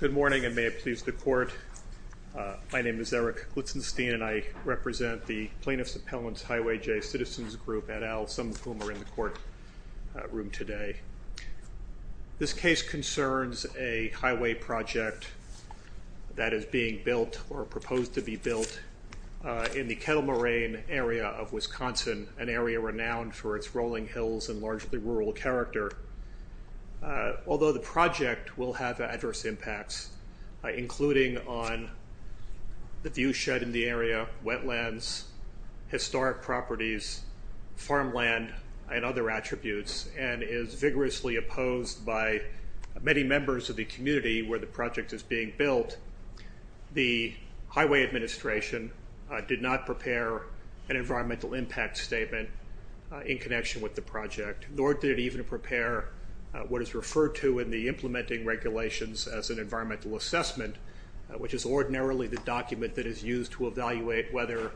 Good morning and may it please the court. My name is Eric Glitzenstein and I represent the Plaintiff's Appellant's Highway J Citizens Group, et al., some of whom are in the courtroom today. This case concerns a highway project that is being built or proposed to be built in the Kettle Moraine area of Wisconsin, an area renowned for its rolling hills and largely rural character. Although the project will have adverse impacts, including on the view shed in the area, wetlands, historic properties, farmland, and other attributes, and is vigorously opposed by many members of the community where the project is being built, the Highway Administration did not prepare an environmental impact statement in connection with the project, nor did it even prepare what is referred to in the implementing regulations as an environmental assessment, which is ordinarily the document that is used to evaluate whether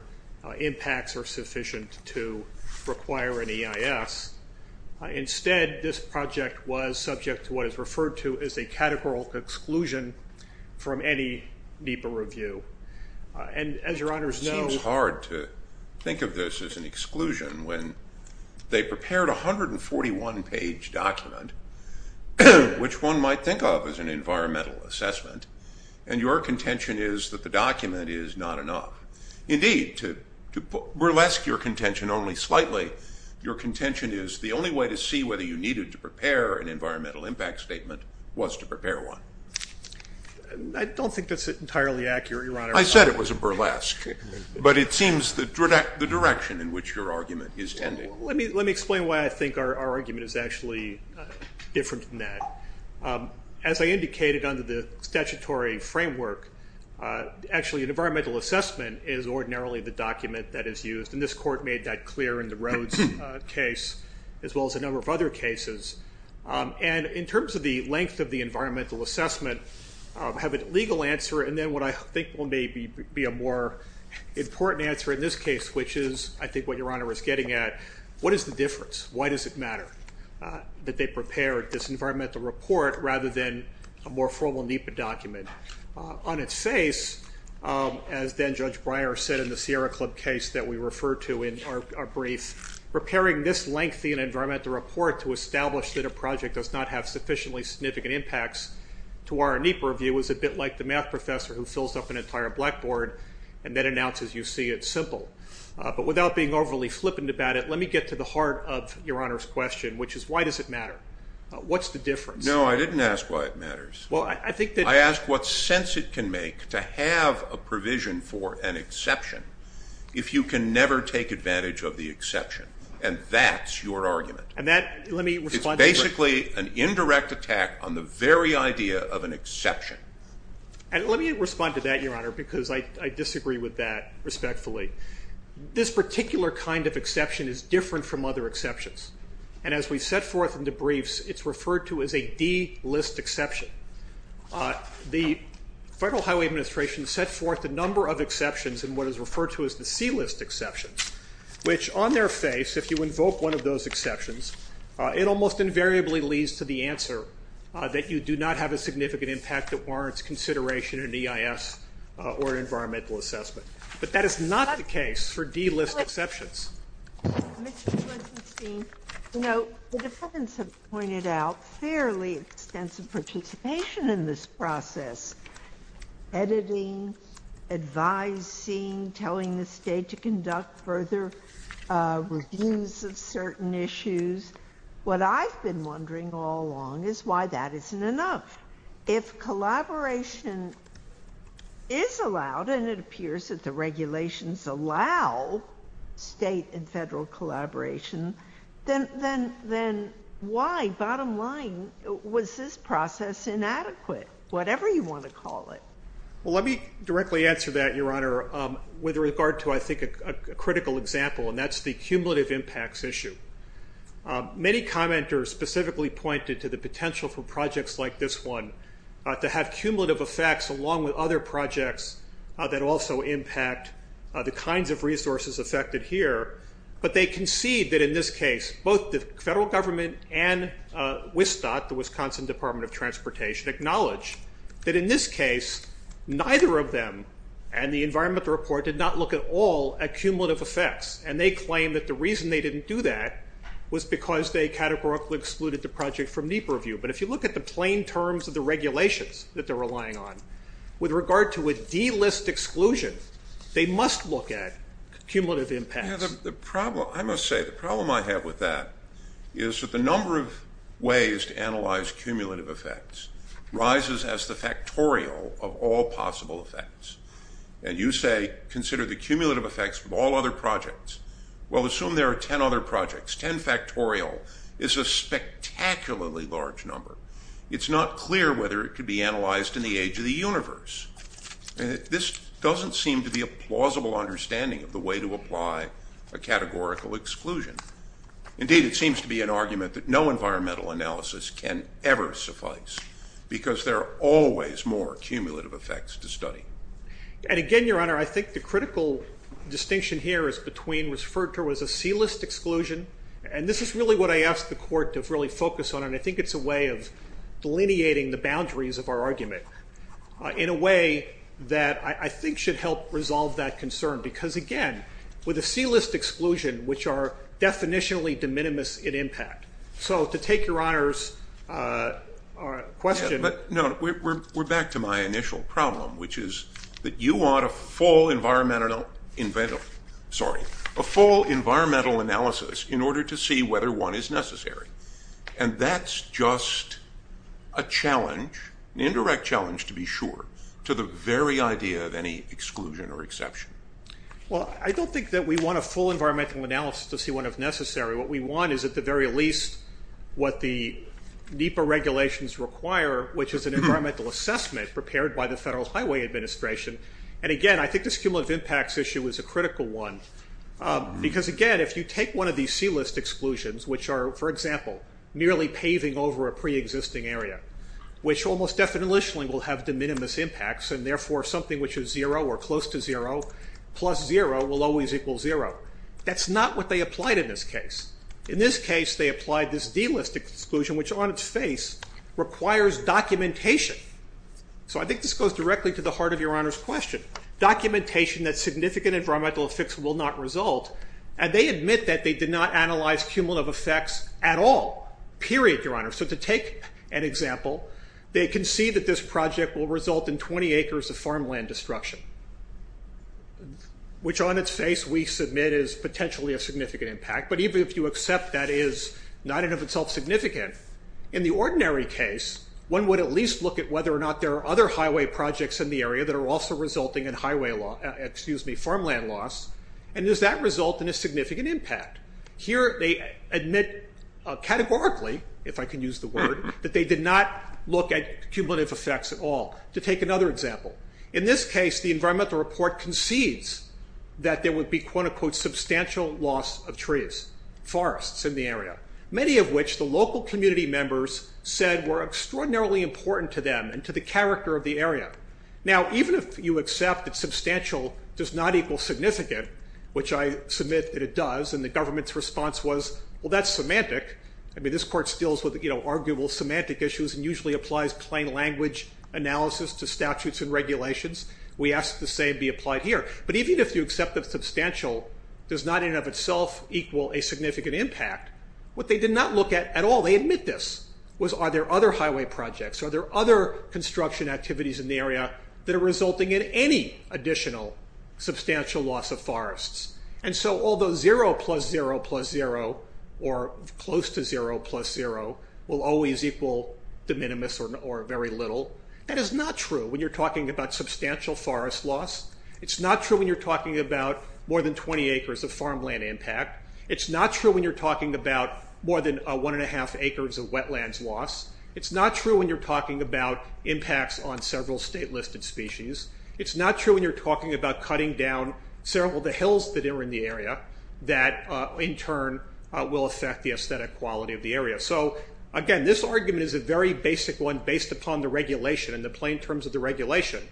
impacts are sufficient to require an EIS. Instead, this project was subject to what is referred to as a categorical exclusion from any NEPA review. And as your honors know- I don't think that's entirely accurate, your honor. I said it was a burlesque, but it seems the direction in which your argument is tending. Let me explain why I think our argument is actually different than that. As I indicated under the statutory framework, actually an environmental assessment is ordinarily the document that is used, and this court made that clear in the Rhodes case, as well as a number of other cases. And in terms of the length of the environmental assessment, I have a legal answer, and then what I think will maybe be a more important answer in this case, which is, I think what is the difference? Why does it matter that they prepared this environmental report rather than a more formal NEPA document? On its face, as then Judge Breyer said in the Sierra Club case that we referred to in our brief, preparing this lengthy environmental report to establish that a project does not have sufficiently significant impacts to our NEPA review is a bit like the math professor who fills up an entire blackboard and then announces, you see, it's simple. But without being overly flippant about it, let me get to the heart of Your Honor's question, which is, why does it matter? What's the difference? No, I didn't ask why it matters. Well, I think that— I asked what sense it can make to have a provision for an exception if you can never take advantage of the exception, and that's your argument. And that— It's basically an indirect attack on the very idea of an exception. And let me respond to that, Your Honor, because I disagree with that respectfully. This particular kind of exception is different from other exceptions. And as we set forth in the briefs, it's referred to as a D-list exception. The Federal Highway Administration set forth a number of exceptions in what is referred to as the C-list exceptions, which on their face, if you invoke one of those exceptions, it almost invariably leads to the answer that you do not have a significant impact at one or more of its consideration in EIS or environmental assessment. But that is not the case for D-list exceptions. Mr. Quintinstein, you know, the defendants have pointed out fairly extensive participation in this process, editing, advising, telling the State to conduct further reviews of certain issues. What I've been wondering all along is why that isn't enough. If collaboration is allowed, and it appears that the regulations allow State and Federal collaboration, then why, bottom line, was this process inadequate, whatever you want to call it? Well, let me directly answer that, Your Honor, with regard to, I think, a critical example, and that's the cumulative impacts issue. Many commenters specifically pointed to the potential for projects like this one to have cumulative effects along with other projects that also impact the kinds of resources affected here, but they concede that in this case, both the Federal Government and WSDOT, the Wisconsin Department of Transportation, acknowledge that in this case, neither of them and the environmental report did not look at all at cumulative effects, and they claim that the was because they categorically excluded the project from NEPA review, but if you look at the plain terms of the regulations that they're relying on, with regard to a D-list exclusion, they must look at cumulative impacts. The problem, I must say, the problem I have with that is that the number of ways to analyze cumulative effects rises as the factorial of all possible effects, and you say consider the cumulative effects of all other projects, well, assume there are 10 other projects. Ten factorial is a spectacularly large number. It's not clear whether it could be analyzed in the age of the universe. This doesn't seem to be a plausible understanding of the way to apply a categorical exclusion. Indeed, it seems to be an argument that no environmental analysis can ever suffice because there are always more cumulative effects to study. And again, Your Honor, I think the critical distinction here is between referred to as a C-list exclusion, and this is really what I asked the court to really focus on, and I think it's a way of delineating the boundaries of our argument in a way that I think should help resolve that concern, because again, with a C-list exclusion, which are definitionally de minimis in impact. So to take Your Honor's question. But no, we're back to my initial problem, which is that you want a full environmental analysis in order to see whether one is necessary, and that's just a challenge, an indirect challenge to be sure, to the very idea of any exclusion or exception. Well, I don't think that we want a full environmental analysis to see one if necessary. What we want is at the very least what the NEPA regulations require, which is an environmental assessment prepared by the Federal Highway Administration, and again, I think this cumulative impacts issue is a critical one, because again, if you take one of these C-list exclusions, which are, for example, merely paving over a pre-existing area, which almost definitionally will have de minimis impacts, and therefore something which is zero or close to zero plus zero will always equal zero. That's not what they applied in this case. In this case, they applied this D-list exclusion, which on its face requires documentation. So I think this goes directly to the heart of Your Honor's question, documentation that significant environmental effects will not result, and they admit that they did not analyze cumulative effects at all, period, Your Honor. So to take an example, they concede that this project will result in 20 acres of farmland destruction, which on its face we submit is potentially a significant impact, but even if you accept that is not in and of itself significant, in the ordinary case, one would at least look at whether or not there are other highway projects in the area that are also resulting in farmland loss, and does that result in a significant impact? Here they admit categorically, if I can use the word, that they did not look at cumulative effects at all. To take another example, in this case, the environmental report concedes that there would be, quote unquote, substantial loss of trees, forests in the area, many of which the local community members said were extraordinarily important to them and to the character of the area. Now, even if you accept that substantial does not equal significant, which I submit that it does, and the government's response was, well, that's semantic, I mean, this court deals with, you know, arguable semantic issues and usually applies plain language analysis to statutes and regulations, we ask the same be applied here, but even if you accept that substantial does not in and of itself equal a significant impact, what they did not look at at all, they admit this, was are there other highway projects, are there other construction activities in the area that are resulting in any additional substantial loss of forests? And so although zero plus zero plus zero, or close to zero plus zero, will always equal de minimis or very little, that is not true when you're talking about substantial forest loss. It's not true when you're talking about more than 20 acres of farmland impact. It's not true when you're talking about more than one and a half acres of wetlands loss. It's not true when you're talking about impacts on several state listed species. It's not true when you're talking about cutting down several of the hills that are in the area that in turn will affect the aesthetic quality of the area. So again, this argument is a very basic one based upon the regulation and the plain terms of the regulation,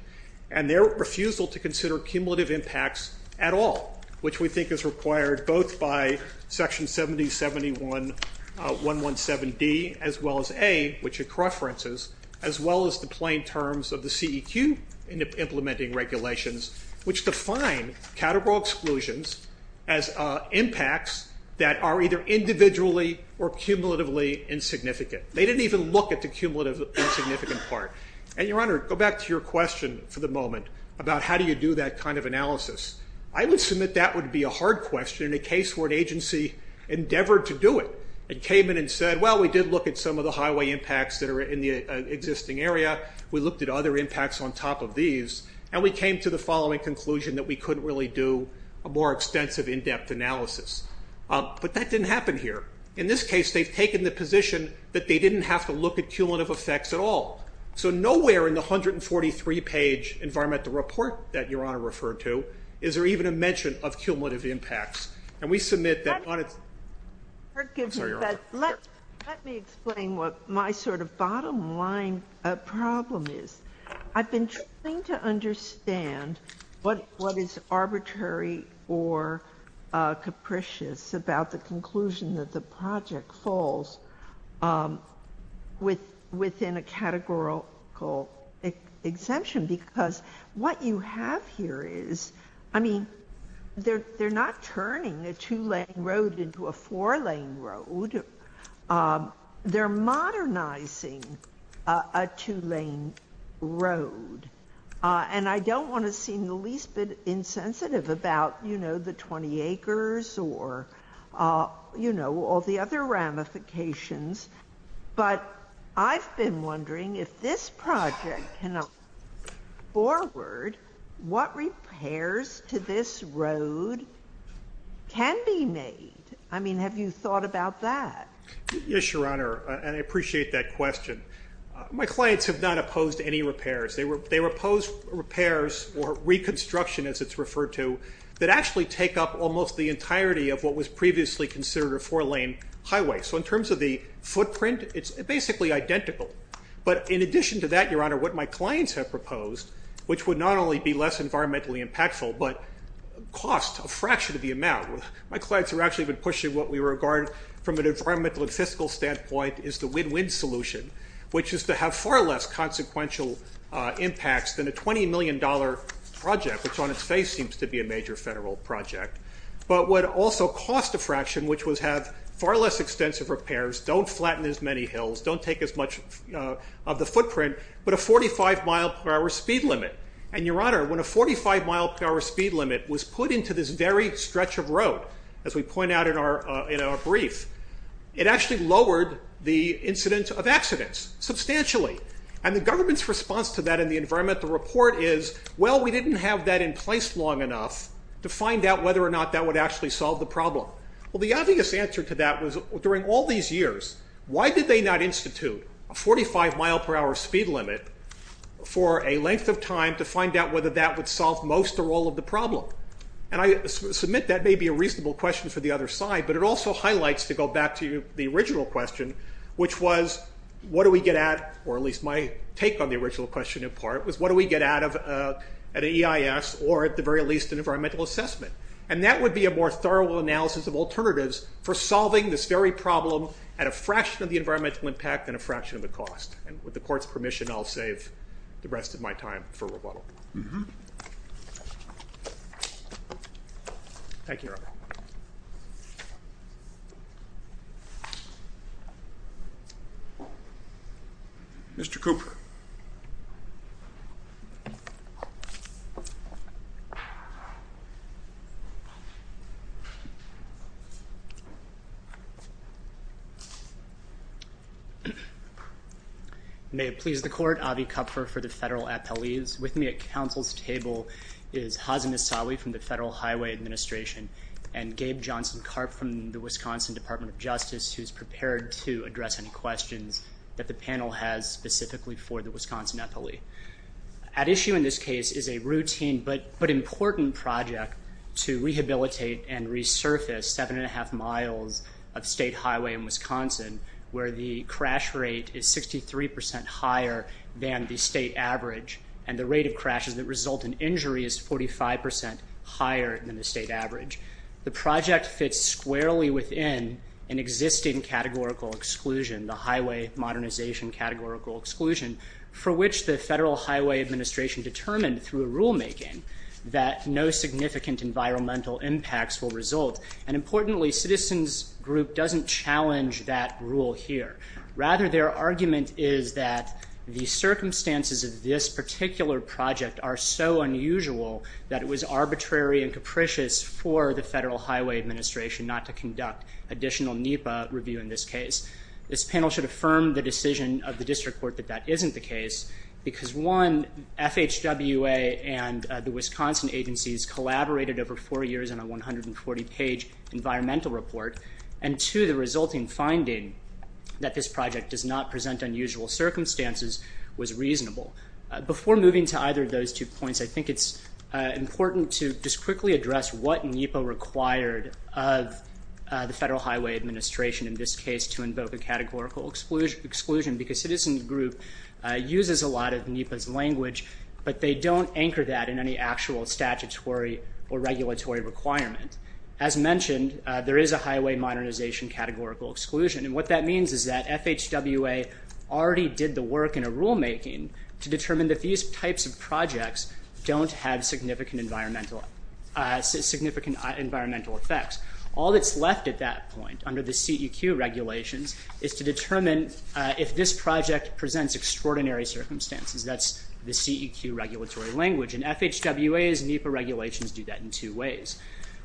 and their refusal to consider cumulative impacts at all, which we think is required both by Section 7071.117D as well as A, which are correferences, as well as the plain terms of the CEQ implementing regulations, which define categorical exclusions as impacts that are either individually or cumulatively insignificant. They didn't even look at the cumulative insignificant part. And Your Honor, go back to your question for the moment about how do you do that kind of analysis. I would submit that would be a hard question in a case where an agency endeavored to do it, and came in and said, well, we did look at some of the highway impacts that are in the existing area, we looked at other impacts on top of these, and we came to the following conclusion that we couldn't really do a more extensive in-depth analysis. But that didn't happen here. In this case, they've taken the position that they didn't have to look at cumulative effects at all. So nowhere in the 143-page environmental report that Your Honor referred to is there even a mention of cumulative impacts. And we submit that on its – I'm sorry, Your Honor, let me explain what my sort of bottom line problem is. I've been trying to understand what is arbitrary or capricious about the conclusion that the project falls within a categorical exemption, because what you have here is – I mean, they're turning a two-lane road into a four-lane road. They're modernizing a two-lane road. And I don't want to seem the least bit insensitive about, you know, the 20 acres or, you know, all the other ramifications. But I've been wondering, if this project cannot move forward, what repairs to this road can be made? I mean, have you thought about that? Yes, Your Honor, and I appreciate that question. My clients have not opposed any repairs. They were opposed repairs or reconstruction, as it's referred to, that actually take up almost the entirety of what was previously considered a four-lane highway. So in terms of the footprint, it's basically identical. But in addition to that, Your Honor, what my clients have proposed, which would not only be less environmentally impactful, but cost a fraction of the amount. My clients have actually been pushing what we regard from an environmental and fiscal standpoint as the win-win solution, which is to have far less consequential impacts than a $20 million project, which on its face seems to be a major federal project, but would also cost a fraction, which was have far less extensive repairs, don't flatten as many hills, don't take as much of the footprint, but a 45-mile-per-hour speed limit. And Your Honor, when a 45-mile-per-hour speed limit was put into this very stretch of road, as we point out in our brief, it actually lowered the incidence of accidents substantially. And the government's response to that in the environmental report is, well, we didn't have that in place long enough to find out whether or not that would actually solve the problem. Well, the obvious answer to that was, during all these years, why did they not institute a 45-mile-per-hour speed limit for a length of time to find out whether that would solve most or all of the problem? And I submit that may be a reasonable question for the other side, but it also highlights to go back to the original question, which was, what do we get at, or at least my take on the original question in part was, what do we get out of an EIS or at the very least an environmental assessment? And that would be a more thorough analysis of alternatives for solving this very problem at a fraction of the environmental impact and a fraction of the cost. And with the Court's permission, I'll save the rest of my time for rebuttal. Thank you, Your Honor. Mr. Cooper. May it please the Court, Avi Kupfer for the federal appellees. With me at counsel's table is Hazem Issaoui from the Federal Highway Administration and Gabe Johnson-Karp from the Wisconsin Department of Justice, who's prepared to address any questions that the panel has specifically for the Wisconsin appellee. At issue in this case is a routine but important project to rehabilitate and resurface seven and a half miles of state highway in Wisconsin, where the crash rate is 63 percent higher than the state average and the rate of crashes that result in injury is 45 percent higher than the state average. The project fits squarely within an existing categorical exclusion, the Highway Modernization Categorical Exclusion, for which the Federal Highway Administration determined through rulemaking that no significant environmental impacts will result. And importantly, Citizens Group doesn't challenge that rule here. Rather, their argument is that the circumstances of this particular project are so unusual that it was arbitrary and capricious for the Federal Highway Administration not to conduct additional NEPA review in this case. This panel should affirm the decision of the district court that that isn't the case, because one, FHWA and the Wisconsin agencies collaborated over four years on a 140-page environmental report, and two, the resulting finding that this project does not present unusual circumstances was reasonable. Before moving to either of those two points, I think it's important to just quickly address what NEPA required of the Federal Highway Administration in this case to invoke a categorical exclusion, because Citizens Group uses a lot of NEPA's language, but they don't anchor that in any actual statutory or regulatory requirement. As mentioned, there is a Highway Modernization Categorical Exclusion, and what that means is that FHWA already did the work in a rulemaking to determine that these types of projects don't have significant environmental effects. All that's left at that point, under the CEQ regulations, is to determine if this project presents extraordinary circumstances. That's the CEQ regulatory language, and FHWA's NEPA regulations do that in two ways.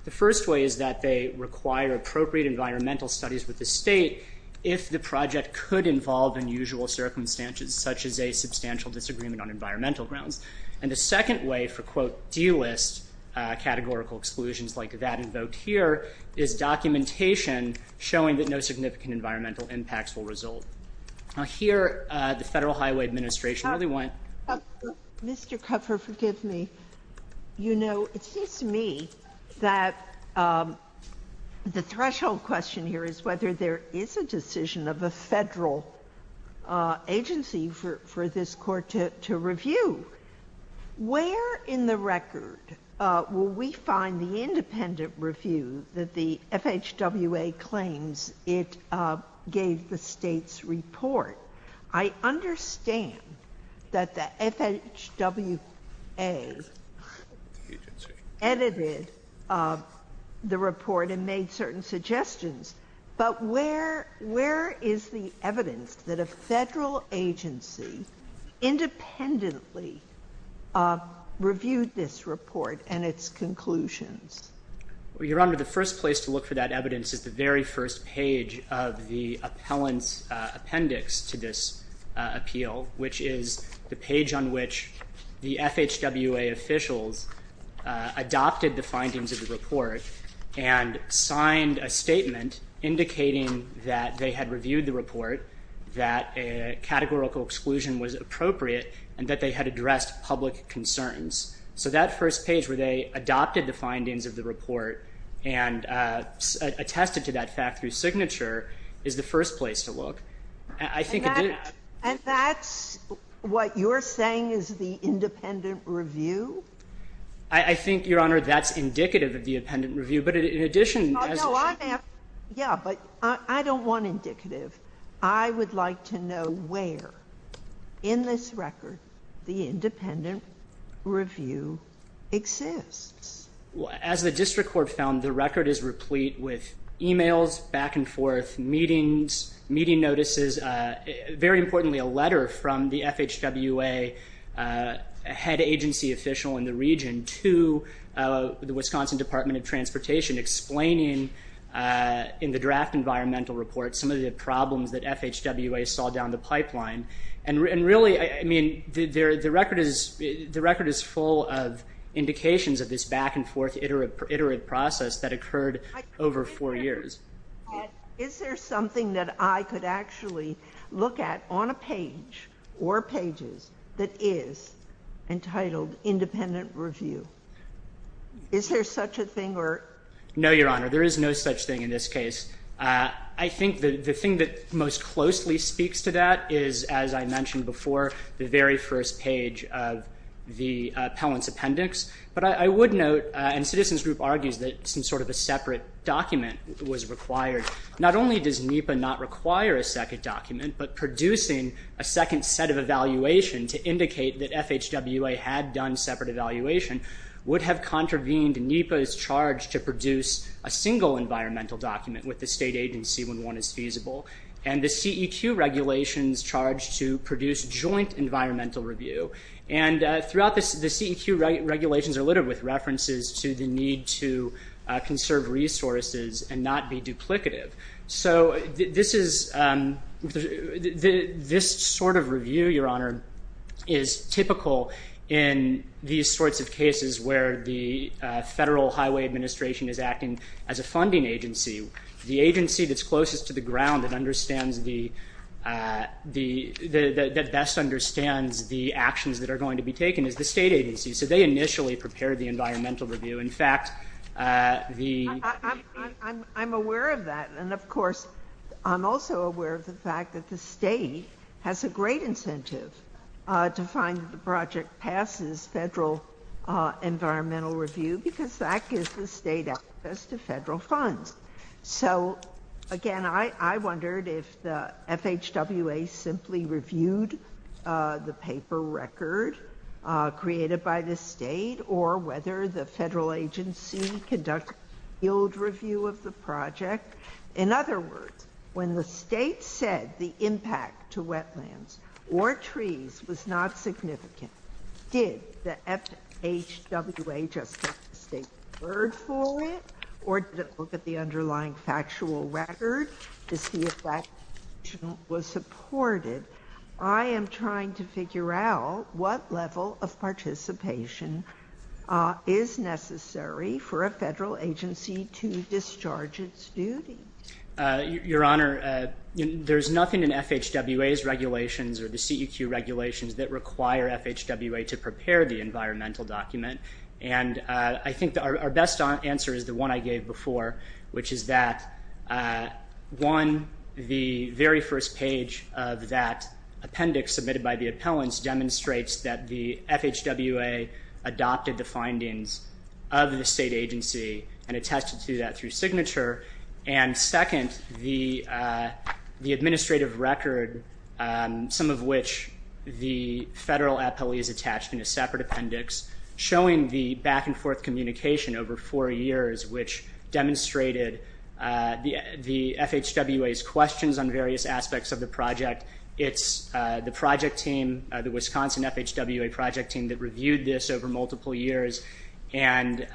The first way is that they require appropriate environmental studies with the state if the project could involve unusual circumstances, such as a substantial disagreement on environmental grounds. And the second way for, quote, delist categorical exclusions like that invoked here, is documentation showing that no significant environmental impacts will result. Now here, the Federal Highway Administration really want... Mr. Kupfer, forgive me. You know, it seems to me that the threshold question here is whether there is a decision of a federal agency for this Court to review. Where in the record will we find the independent review that the FHWA claims it gave the state's report? I understand that the FHWA edited the report and made certain suggestions, but where is the evidence that a Federal agency independently reviewed this report and its conclusions? Your Honor, the first place to look for that evidence is the very first page of the evidence to this appeal, which is the page on which the FHWA officials adopted the findings of the report and signed a statement indicating that they had reviewed the report, that a categorical exclusion was appropriate, and that they had addressed public concerns. So that first page where they adopted the findings of the report and attested to that fact through signature is the first place to look. And that's what you're saying is the independent review? I think, Your Honor, that's indicative of the independent review, but in addition... No, I'm asking, yeah, but I don't want indicative. I would like to know where in this record the independent review exists. Well, as the district court found, the record is replete with e-mails back and forth, meetings, meeting notices, very importantly, a letter from the FHWA head agency official in the region to the Wisconsin Department of Transportation explaining in the draft environmental report some of the problems that FHWA saw down the pipeline. And really, I mean, the record is full of indications of this back and forth, iterative process that occurred over four years. Is there something that I could actually look at on a page or pages that is entitled independent review? Is there such a thing or... No, Your Honor. There is no such thing in this case. I think the thing that most closely speaks to that is, as I mentioned before, the very first page of the appellant's appendix. But I would note, and Citizens Group argues that some sort of a separate document was required. Not only does NEPA not require a second document, but producing a second set of evaluation to indicate that FHWA had done separate evaluation would have contravened NEPA's charge to produce a single environmental document with the state agency when one is feasible. And the CEQ regulations charge to produce joint environmental review. And throughout this, the CEQ regulations are littered with references to the need to conserve resources and not be duplicative. So this sort of review, Your Honor, is typical in these sorts of cases where the Federal Highway Administration is acting as a funding agency. The agency that's closest to the ground that best understands the actions that are going to be taken is the state agency. So they initially prepared the environmental review. In fact, the- I'm aware of that. And of course, I'm also aware of the fact that the state has a great incentive to find the project passes federal environmental review because that gives the state access to federal funds. So, again, I wondered if the FHWA simply reviewed the paper record created by the state or whether the federal agency conducted a field review of the project. In other words, when the state said the impact to wetlands or trees was not significant, did the FHWA just let the state deferred for it? Or did it look at the underlying factual record to see if that was supported? I am trying to figure out what level of participation is necessary for a federal agency to discharge its duty. Your Honor, there's nothing in FHWA's regulations or the CEQ regulations that require FHWA to prepare the environmental document. And I think our best answer is the one I gave before, which is that, one, the very first page of that appendix submitted by the appellants demonstrates that the FHWA adopted the findings of the state agency and attested to that through signature. And second, the administrative record, some of which the federal appellee is attached in a separate appendix, showing the back and forth communication over four years, which of the project, it's the project team, the Wisconsin FHWA project team that reviewed this over multiple years, and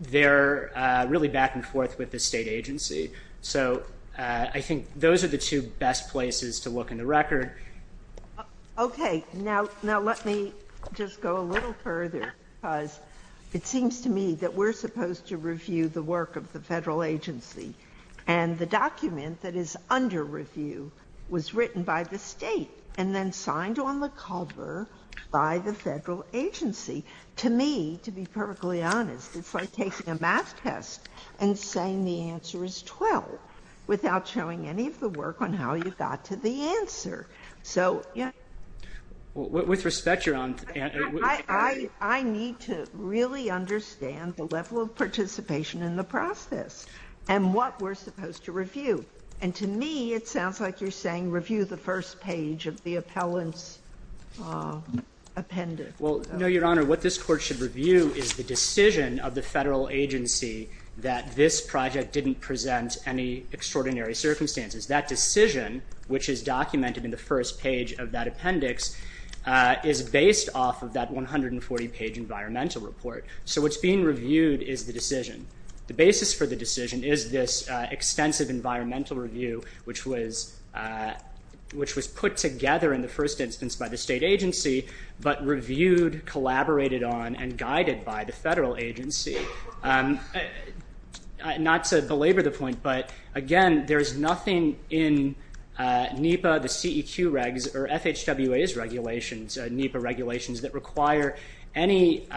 they're really back and forth with the state agency. So I think those are the two best places to look in the record. Okay. Now, let me just go a little further, because it seems to me that we're supposed to review the work of the federal agency, and the document that is under review was written by the state and then signed on the cover by the federal agency. To me, to be perfectly honest, it's like taking a math test and saying the answer is 12 without showing any of the work on how you got to the answer. So yeah. With respect, Your Honor, I need to really understand the level of participation in the process and what we're supposed to review. And to me, it sounds like you're saying review the first page of the appellant's appendix. Well, no, Your Honor, what this Court should review is the decision of the federal agency that this project didn't present any extraordinary circumstances. That decision, which is documented in the first page of that appendix, is based off of that 140-page environmental report. So what's being reviewed is the decision. The basis for the decision is this extensive environmental review, which was put together in the first instance by the state agency, but reviewed, collaborated on, and guided by the federal agency. Not to belabor the point, but again, there's nothing in NEPA, the CEQ regs, or FHWA's regulations, NEPA regulations, that require anything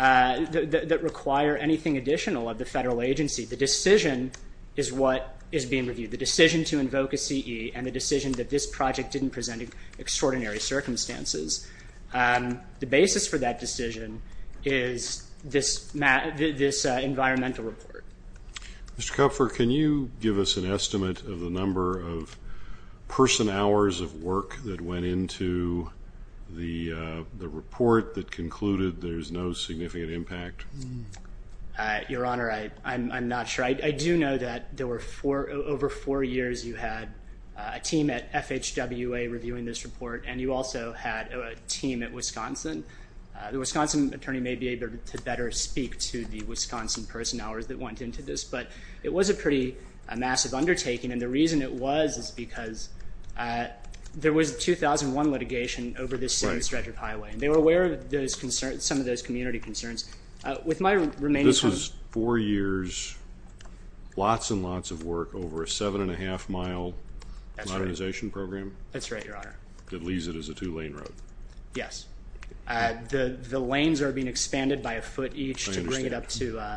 additional of the federal agency. The decision is what is being reviewed. The decision to invoke a CE and the decision that this project didn't present extraordinary circumstances. The basis for that decision is this environmental report. Mr. Kupfer, can you give us an estimate of the number of person-hours of work that went into the report that concluded there's no significant impact? Your Honor, I'm not sure. I do know that there were over four years you had a team at FHWA reviewing this report, and you also had a team at Wisconsin. The Wisconsin attorney may be able to better speak to the Wisconsin person-hours that went into this, but it was a pretty massive undertaking, and the reason it was is because there was a 2001 litigation over this same stretch of highway, and they were aware of some of those community concerns. With my remaining time... This was four years, lots and lots of work, over a seven-and-a-half-mile modernization program? That's right, Your Honor. That leaves it as a two-lane road. Yes. The lanes are being expanded by a foot each to bring it up to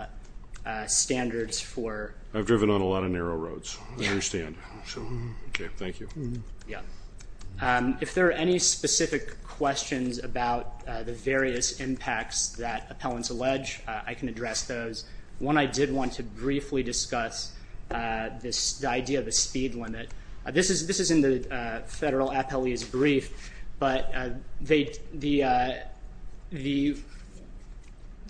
standards for... I've driven on a lot of narrow roads, I understand. Thank you. Yeah. If there are any specific questions about the various impacts that appellants allege, I can address those. One I did want to briefly discuss, the idea of a speed limit. This is in the federal appellee's brief, but the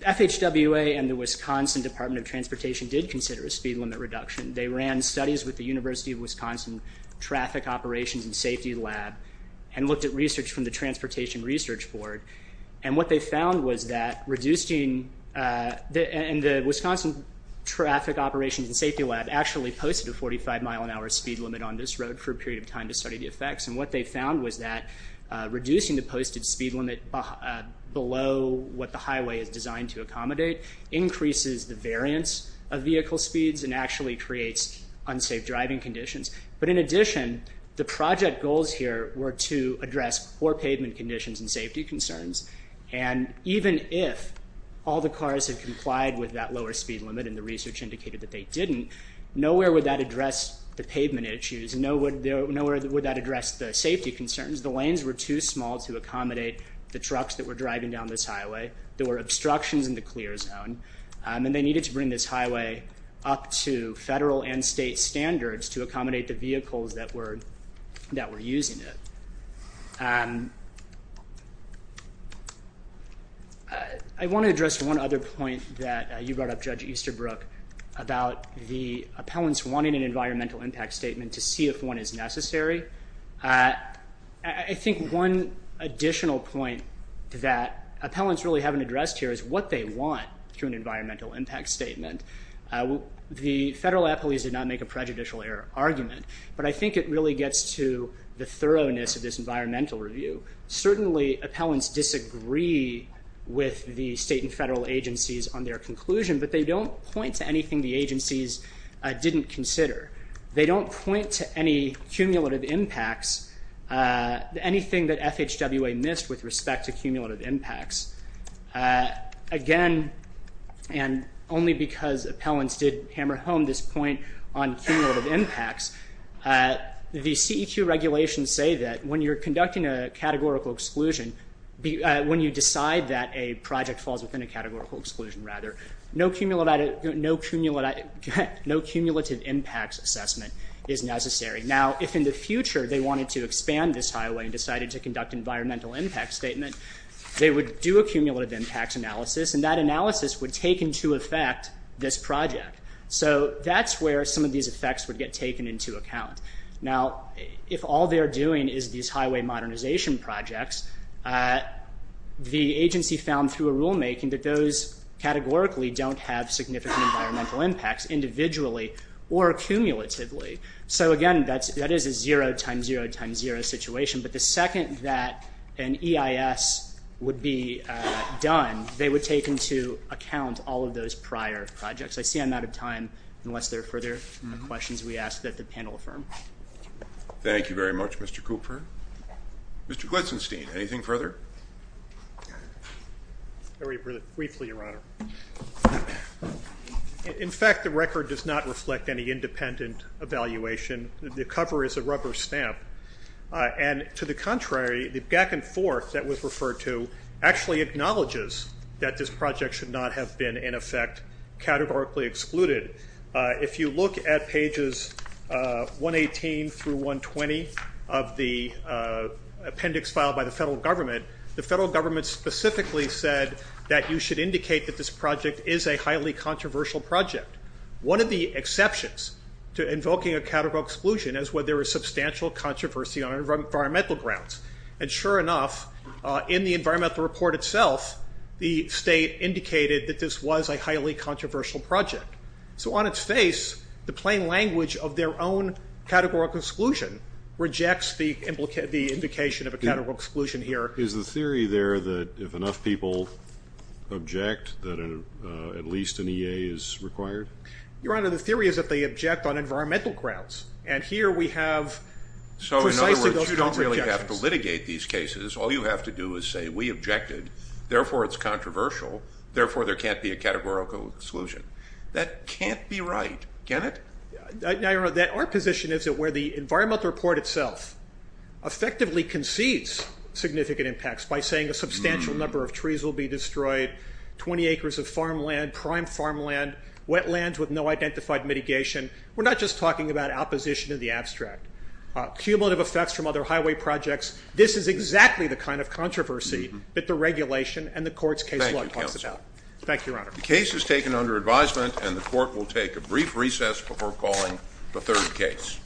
FHWA and the Wisconsin Department of Transportation did consider a speed limit reduction. They ran studies with the University of Wisconsin Traffic Operations and Safety Lab and looked at research from the Transportation Research Board, and what they found was that reducing... And the Wisconsin Traffic Operations and Safety Lab actually posted a 45-mile-an-hour speed limit on this road for a period of time to study the effects, and what they found was that reducing the posted speed limit below what the highway is designed to accommodate increases the variance of vehicle speeds and actually creates unsafe driving conditions. But in addition, the project goals here were to address poor pavement conditions and safety concerns, and even if all the cars had complied with that lower speed limit and the research indicated that they didn't, nowhere would that address the pavement issues, nowhere would that address the safety concerns. The lanes were too small to accommodate the trucks that were driving down this highway. There were obstructions in the clear zone, and they needed to bring this highway up to federal and state standards to accommodate the vehicles that were using it. I want to address one other point that you brought up, Judge Easterbrook, about the appellants wanting an environmental impact statement to see if one is necessary. I think one additional point that appellants really haven't addressed here is what they want through an environmental impact statement. The federal appellees did not make a prejudicial argument, but I think it really gets to the thoroughness of this environmental review. Certainly appellants disagree with the state and federal agencies on their conclusion, but they don't point to anything the agencies didn't consider. They don't point to any cumulative impacts, anything that FHWA missed with respect to cumulative impacts. Again, and only because appellants did hammer home this point on cumulative impacts, the CEQ regulations say that when you're conducting a categorical exclusion, when you decide that a project falls within a categorical exclusion, rather, no cumulative impacts assessment is necessary. Now, if in the future they wanted to expand this highway and decided to conduct an environmental impact statement, they would do a cumulative impacts analysis, and that analysis would take into effect this project. So that's where some of these effects would get taken into account. Now, if all they're doing is these highway modernization projects, the agency found through a rulemaking that those categorically don't have significant environmental impacts individually or cumulatively. So again, that is a zero times zero times zero situation, but the second that an EIS would be done, they would take into account all of those prior projects. I see I'm out of time unless there are further questions we ask that the panel affirm. Thank you very much, Mr. Cooper. Mr. Glitzenstein, anything further? Very briefly, Your Honor. In fact, the record does not reflect any independent evaluation. The cover is a rubber stamp, and to the contrary, the back and forth that was referred to actually acknowledges that this project should not have been, in effect, categorically excluded. If you look at pages 118 through 120 of the appendix filed by the federal government, the federal government specifically said that you should indicate that this project is a highly controversial project. One of the exceptions to invoking a categorical exclusion is where there is substantial controversy on environmental grounds. And sure enough, in the environmental report itself, the state indicated that this was a highly controversial project. So on its face, the plain language of their own categorical exclusion rejects the indication of a categorical exclusion here. Is the theory there that if enough people object, that at least an EA is required? Your Honor, the theory is that they object on environmental grounds, and here we have precisely those kinds of objections. If you have to litigate these cases, all you have to do is say, we objected, therefore it's controversial, therefore there can't be a categorical exclusion. That can't be right, can it? Now, Your Honor, our position is that where the environmental report itself effectively concedes significant impacts by saying a substantial number of trees will be destroyed, 20 acres of farmland, prime farmland, wetlands with no identified mitigation, we're not just talking about opposition to the abstract. Cumulative effects from other highway projects. This is exactly the kind of controversy that the regulation and the court's case law talks about. Thank you, Your Honor. The case is taken under advisement, and the court will take a brief recess before calling the third case.